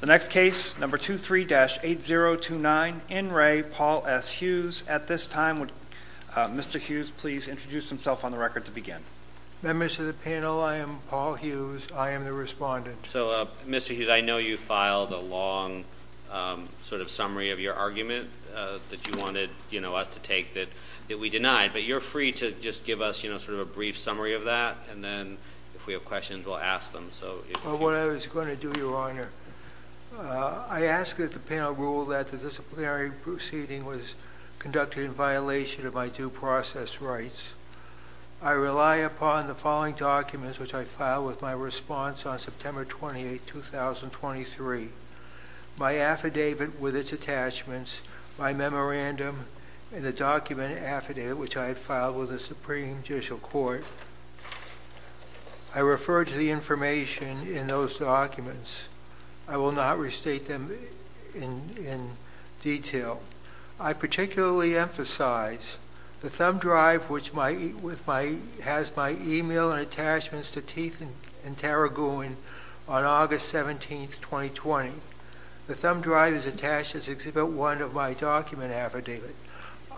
The next case, number 23-8029, In Re, Paul S. Hughes. At this time, would Mr. Hughes please introduce himself on the record to begin? Members of the panel, I am Paul Hughes. I am the respondent. So, Mr. Hughes, I know you filed a long sort of summary of your argument that you wanted us to take that we denied, but you're free to just give us sort of a brief summary of that, and then if we have questions, we'll ask them. Well, what I was going to do, Your Honor, I ask that the panel rule that the disciplinary proceeding was conducted in violation of my due process rights. I rely upon the following documents, which I filed with my response on September 28, 2023, my affidavit with its attachments, my memorandum, and the document affidavit, which I had filed with the Supreme Judicial Court. I refer to the information in those documents. I will not restate them in detail. I particularly emphasize the thumb drive, which has my email and attachments to Teeth and Tarragoon on August 17, 2020. The thumb drive is attached as Exhibit 1 of my document affidavit.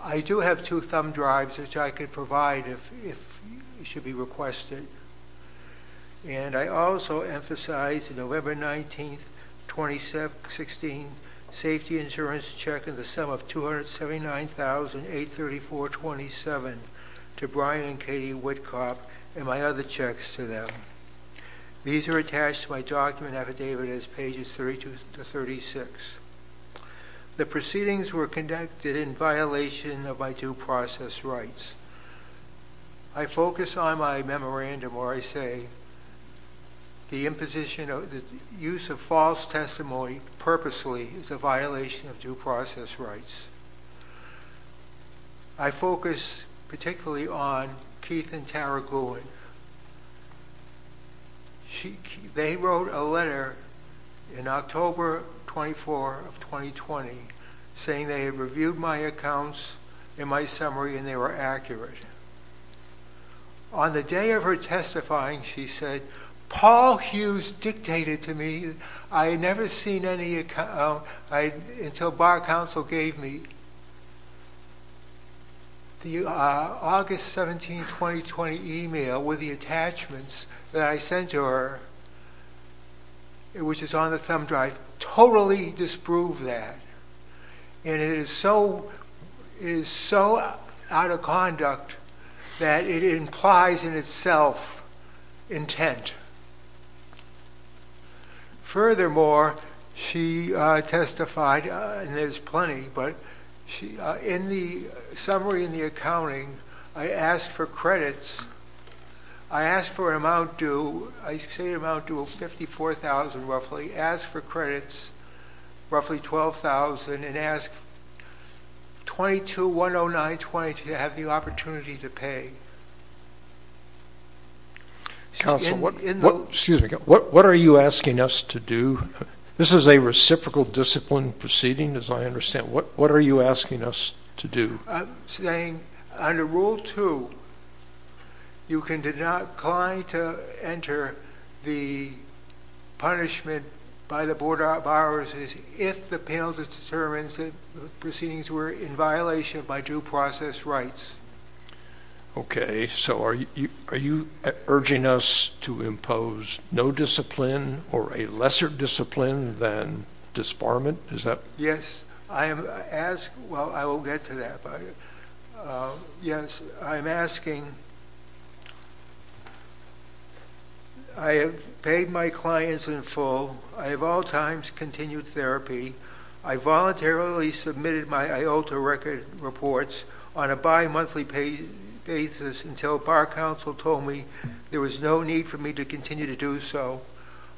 I do have two thumb drives, which I could provide if you should be requested, and I also emphasize the November 19, 2016, safety insurance check in the sum of $279,834.27 to Brian and Katie Wittkop and my other checks to them. These are attached to my document affidavit as pages 32 to 36. The proceedings were conducted in violation of my due process rights. I focus on my memorandum where I say the imposition of the use of false testimony purposely is a violation of due process rights. I focus particularly on Teeth and Tarragoon. They wrote a letter in October 24, 2020, saying they had reviewed my accounts in my summary and they were accurate. On the day of her testifying, she said, Paul Hughes dictated to me. I had never seen any until bar counsel gave me the August 17, 2020, email with the attachments that I sent to her, which is on the thumb drive, totally disprove that. It is so out of conduct that it implies in itself intent. Furthermore, she testified, and there's plenty, but in the summary in the accounting, I asked for credits. I asked for an amount due, I say an amount due of $54,000 roughly, asked for credits, roughly $12,000, and asked $22,109.20 to have the opportunity to pay. Counsel, what are you asking us to do? This is a reciprocal discipline proceeding, as I understand. What are you asking us to do? I'm saying under Rule 2, you can decline to enter the punishment by the Board of Borrowers if the penalty determines that the proceedings were in violation of my due process rights. Okay, so are you urging us to impose no discipline or a lesser discipline than disbarment? Yes, I am asking, well, I will get to that. Yes, I'm asking, I have paid my clients in full. I have all times continued therapy. I voluntarily submitted my IOTA record reports on a bimonthly basis until bar counsel told me there was no need for me to continue to do so.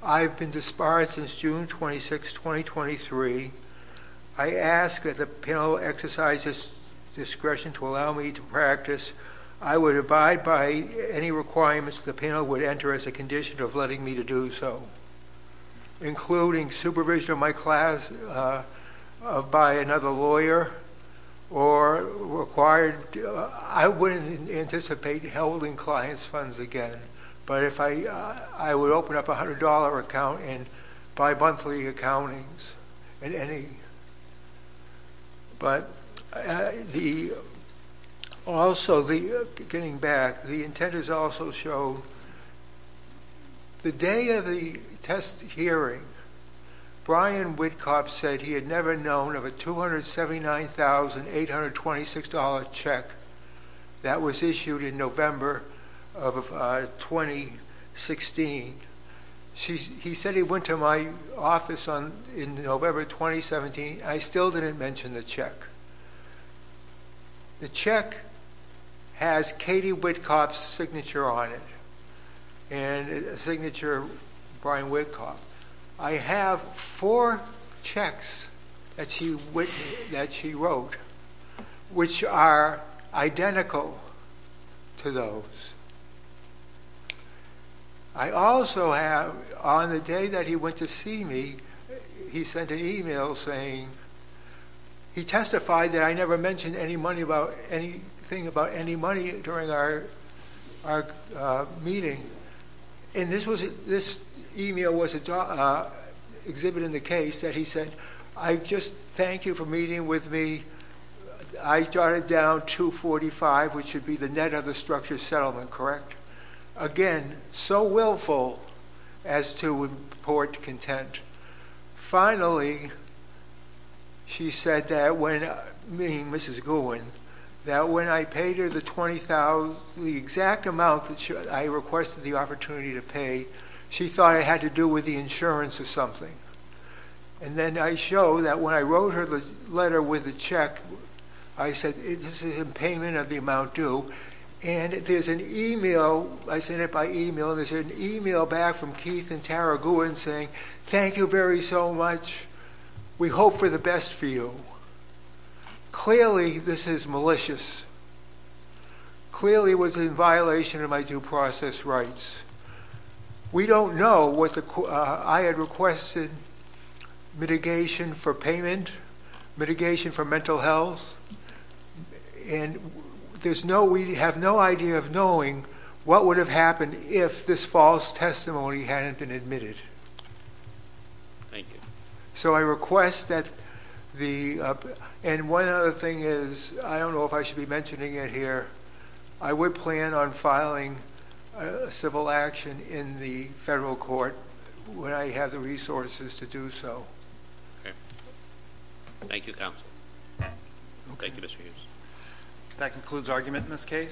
I've been disbarred since June 26, 2023. I ask that the panel exercise its discretion to allow me to practice. I would abide by any requirements the panel would enter as a condition of letting me to do so, including supervision of my class by another lawyer or required. I wouldn't anticipate holding clients' funds again, but I would open up a $100 account in bimonthly accountings at any. But also, getting back, the intent is also to show the day of the test hearing, Brian Whitcobb said he had never known of a $279,826 check that was issued in November of 2016. He said he went to my office in November 2017. I still didn't mention the check. The check has Katie Whitcobb's signature on it and a signature of Brian Whitcobb. I have four checks that she wrote, which are identical to those. I also have, on the day that he went to see me, he sent an email saying he testified that I never mentioned anything about any money during our meeting. This email was exhibited in the case that he said, I just thank you for meeting with me. I jotted down 245, which would be the net of the structure settlement, correct? Again, so willful as to report content. Finally, she said that when, meaning Mrs. Gowen, that when I paid her the 20,000, the exact amount that I requested the opportunity to pay, she thought it had to do with the insurance or something. And then I show that when I wrote her the letter with the check, I said this is a payment of the amount due. And there's an email, I sent it by email, and there's an email back from Keith and Tara Gowen saying, thank you very so much. We hope for the best for you. Clearly, this is malicious. Clearly, it was in violation of my due process rights. We don't know what the, I had requested mitigation for payment, mitigation for mental health. And there's no, we have no idea of knowing what would have happened if this false testimony hadn't been admitted. Thank you. So I request that the, and one other thing is, I don't know if I should be mentioning it here. I would plan on filing a civil action in the federal court when I have the resources to do so. Okay. Thank you, counsel. Thank you, Mr. Hughes. That concludes argument in this case.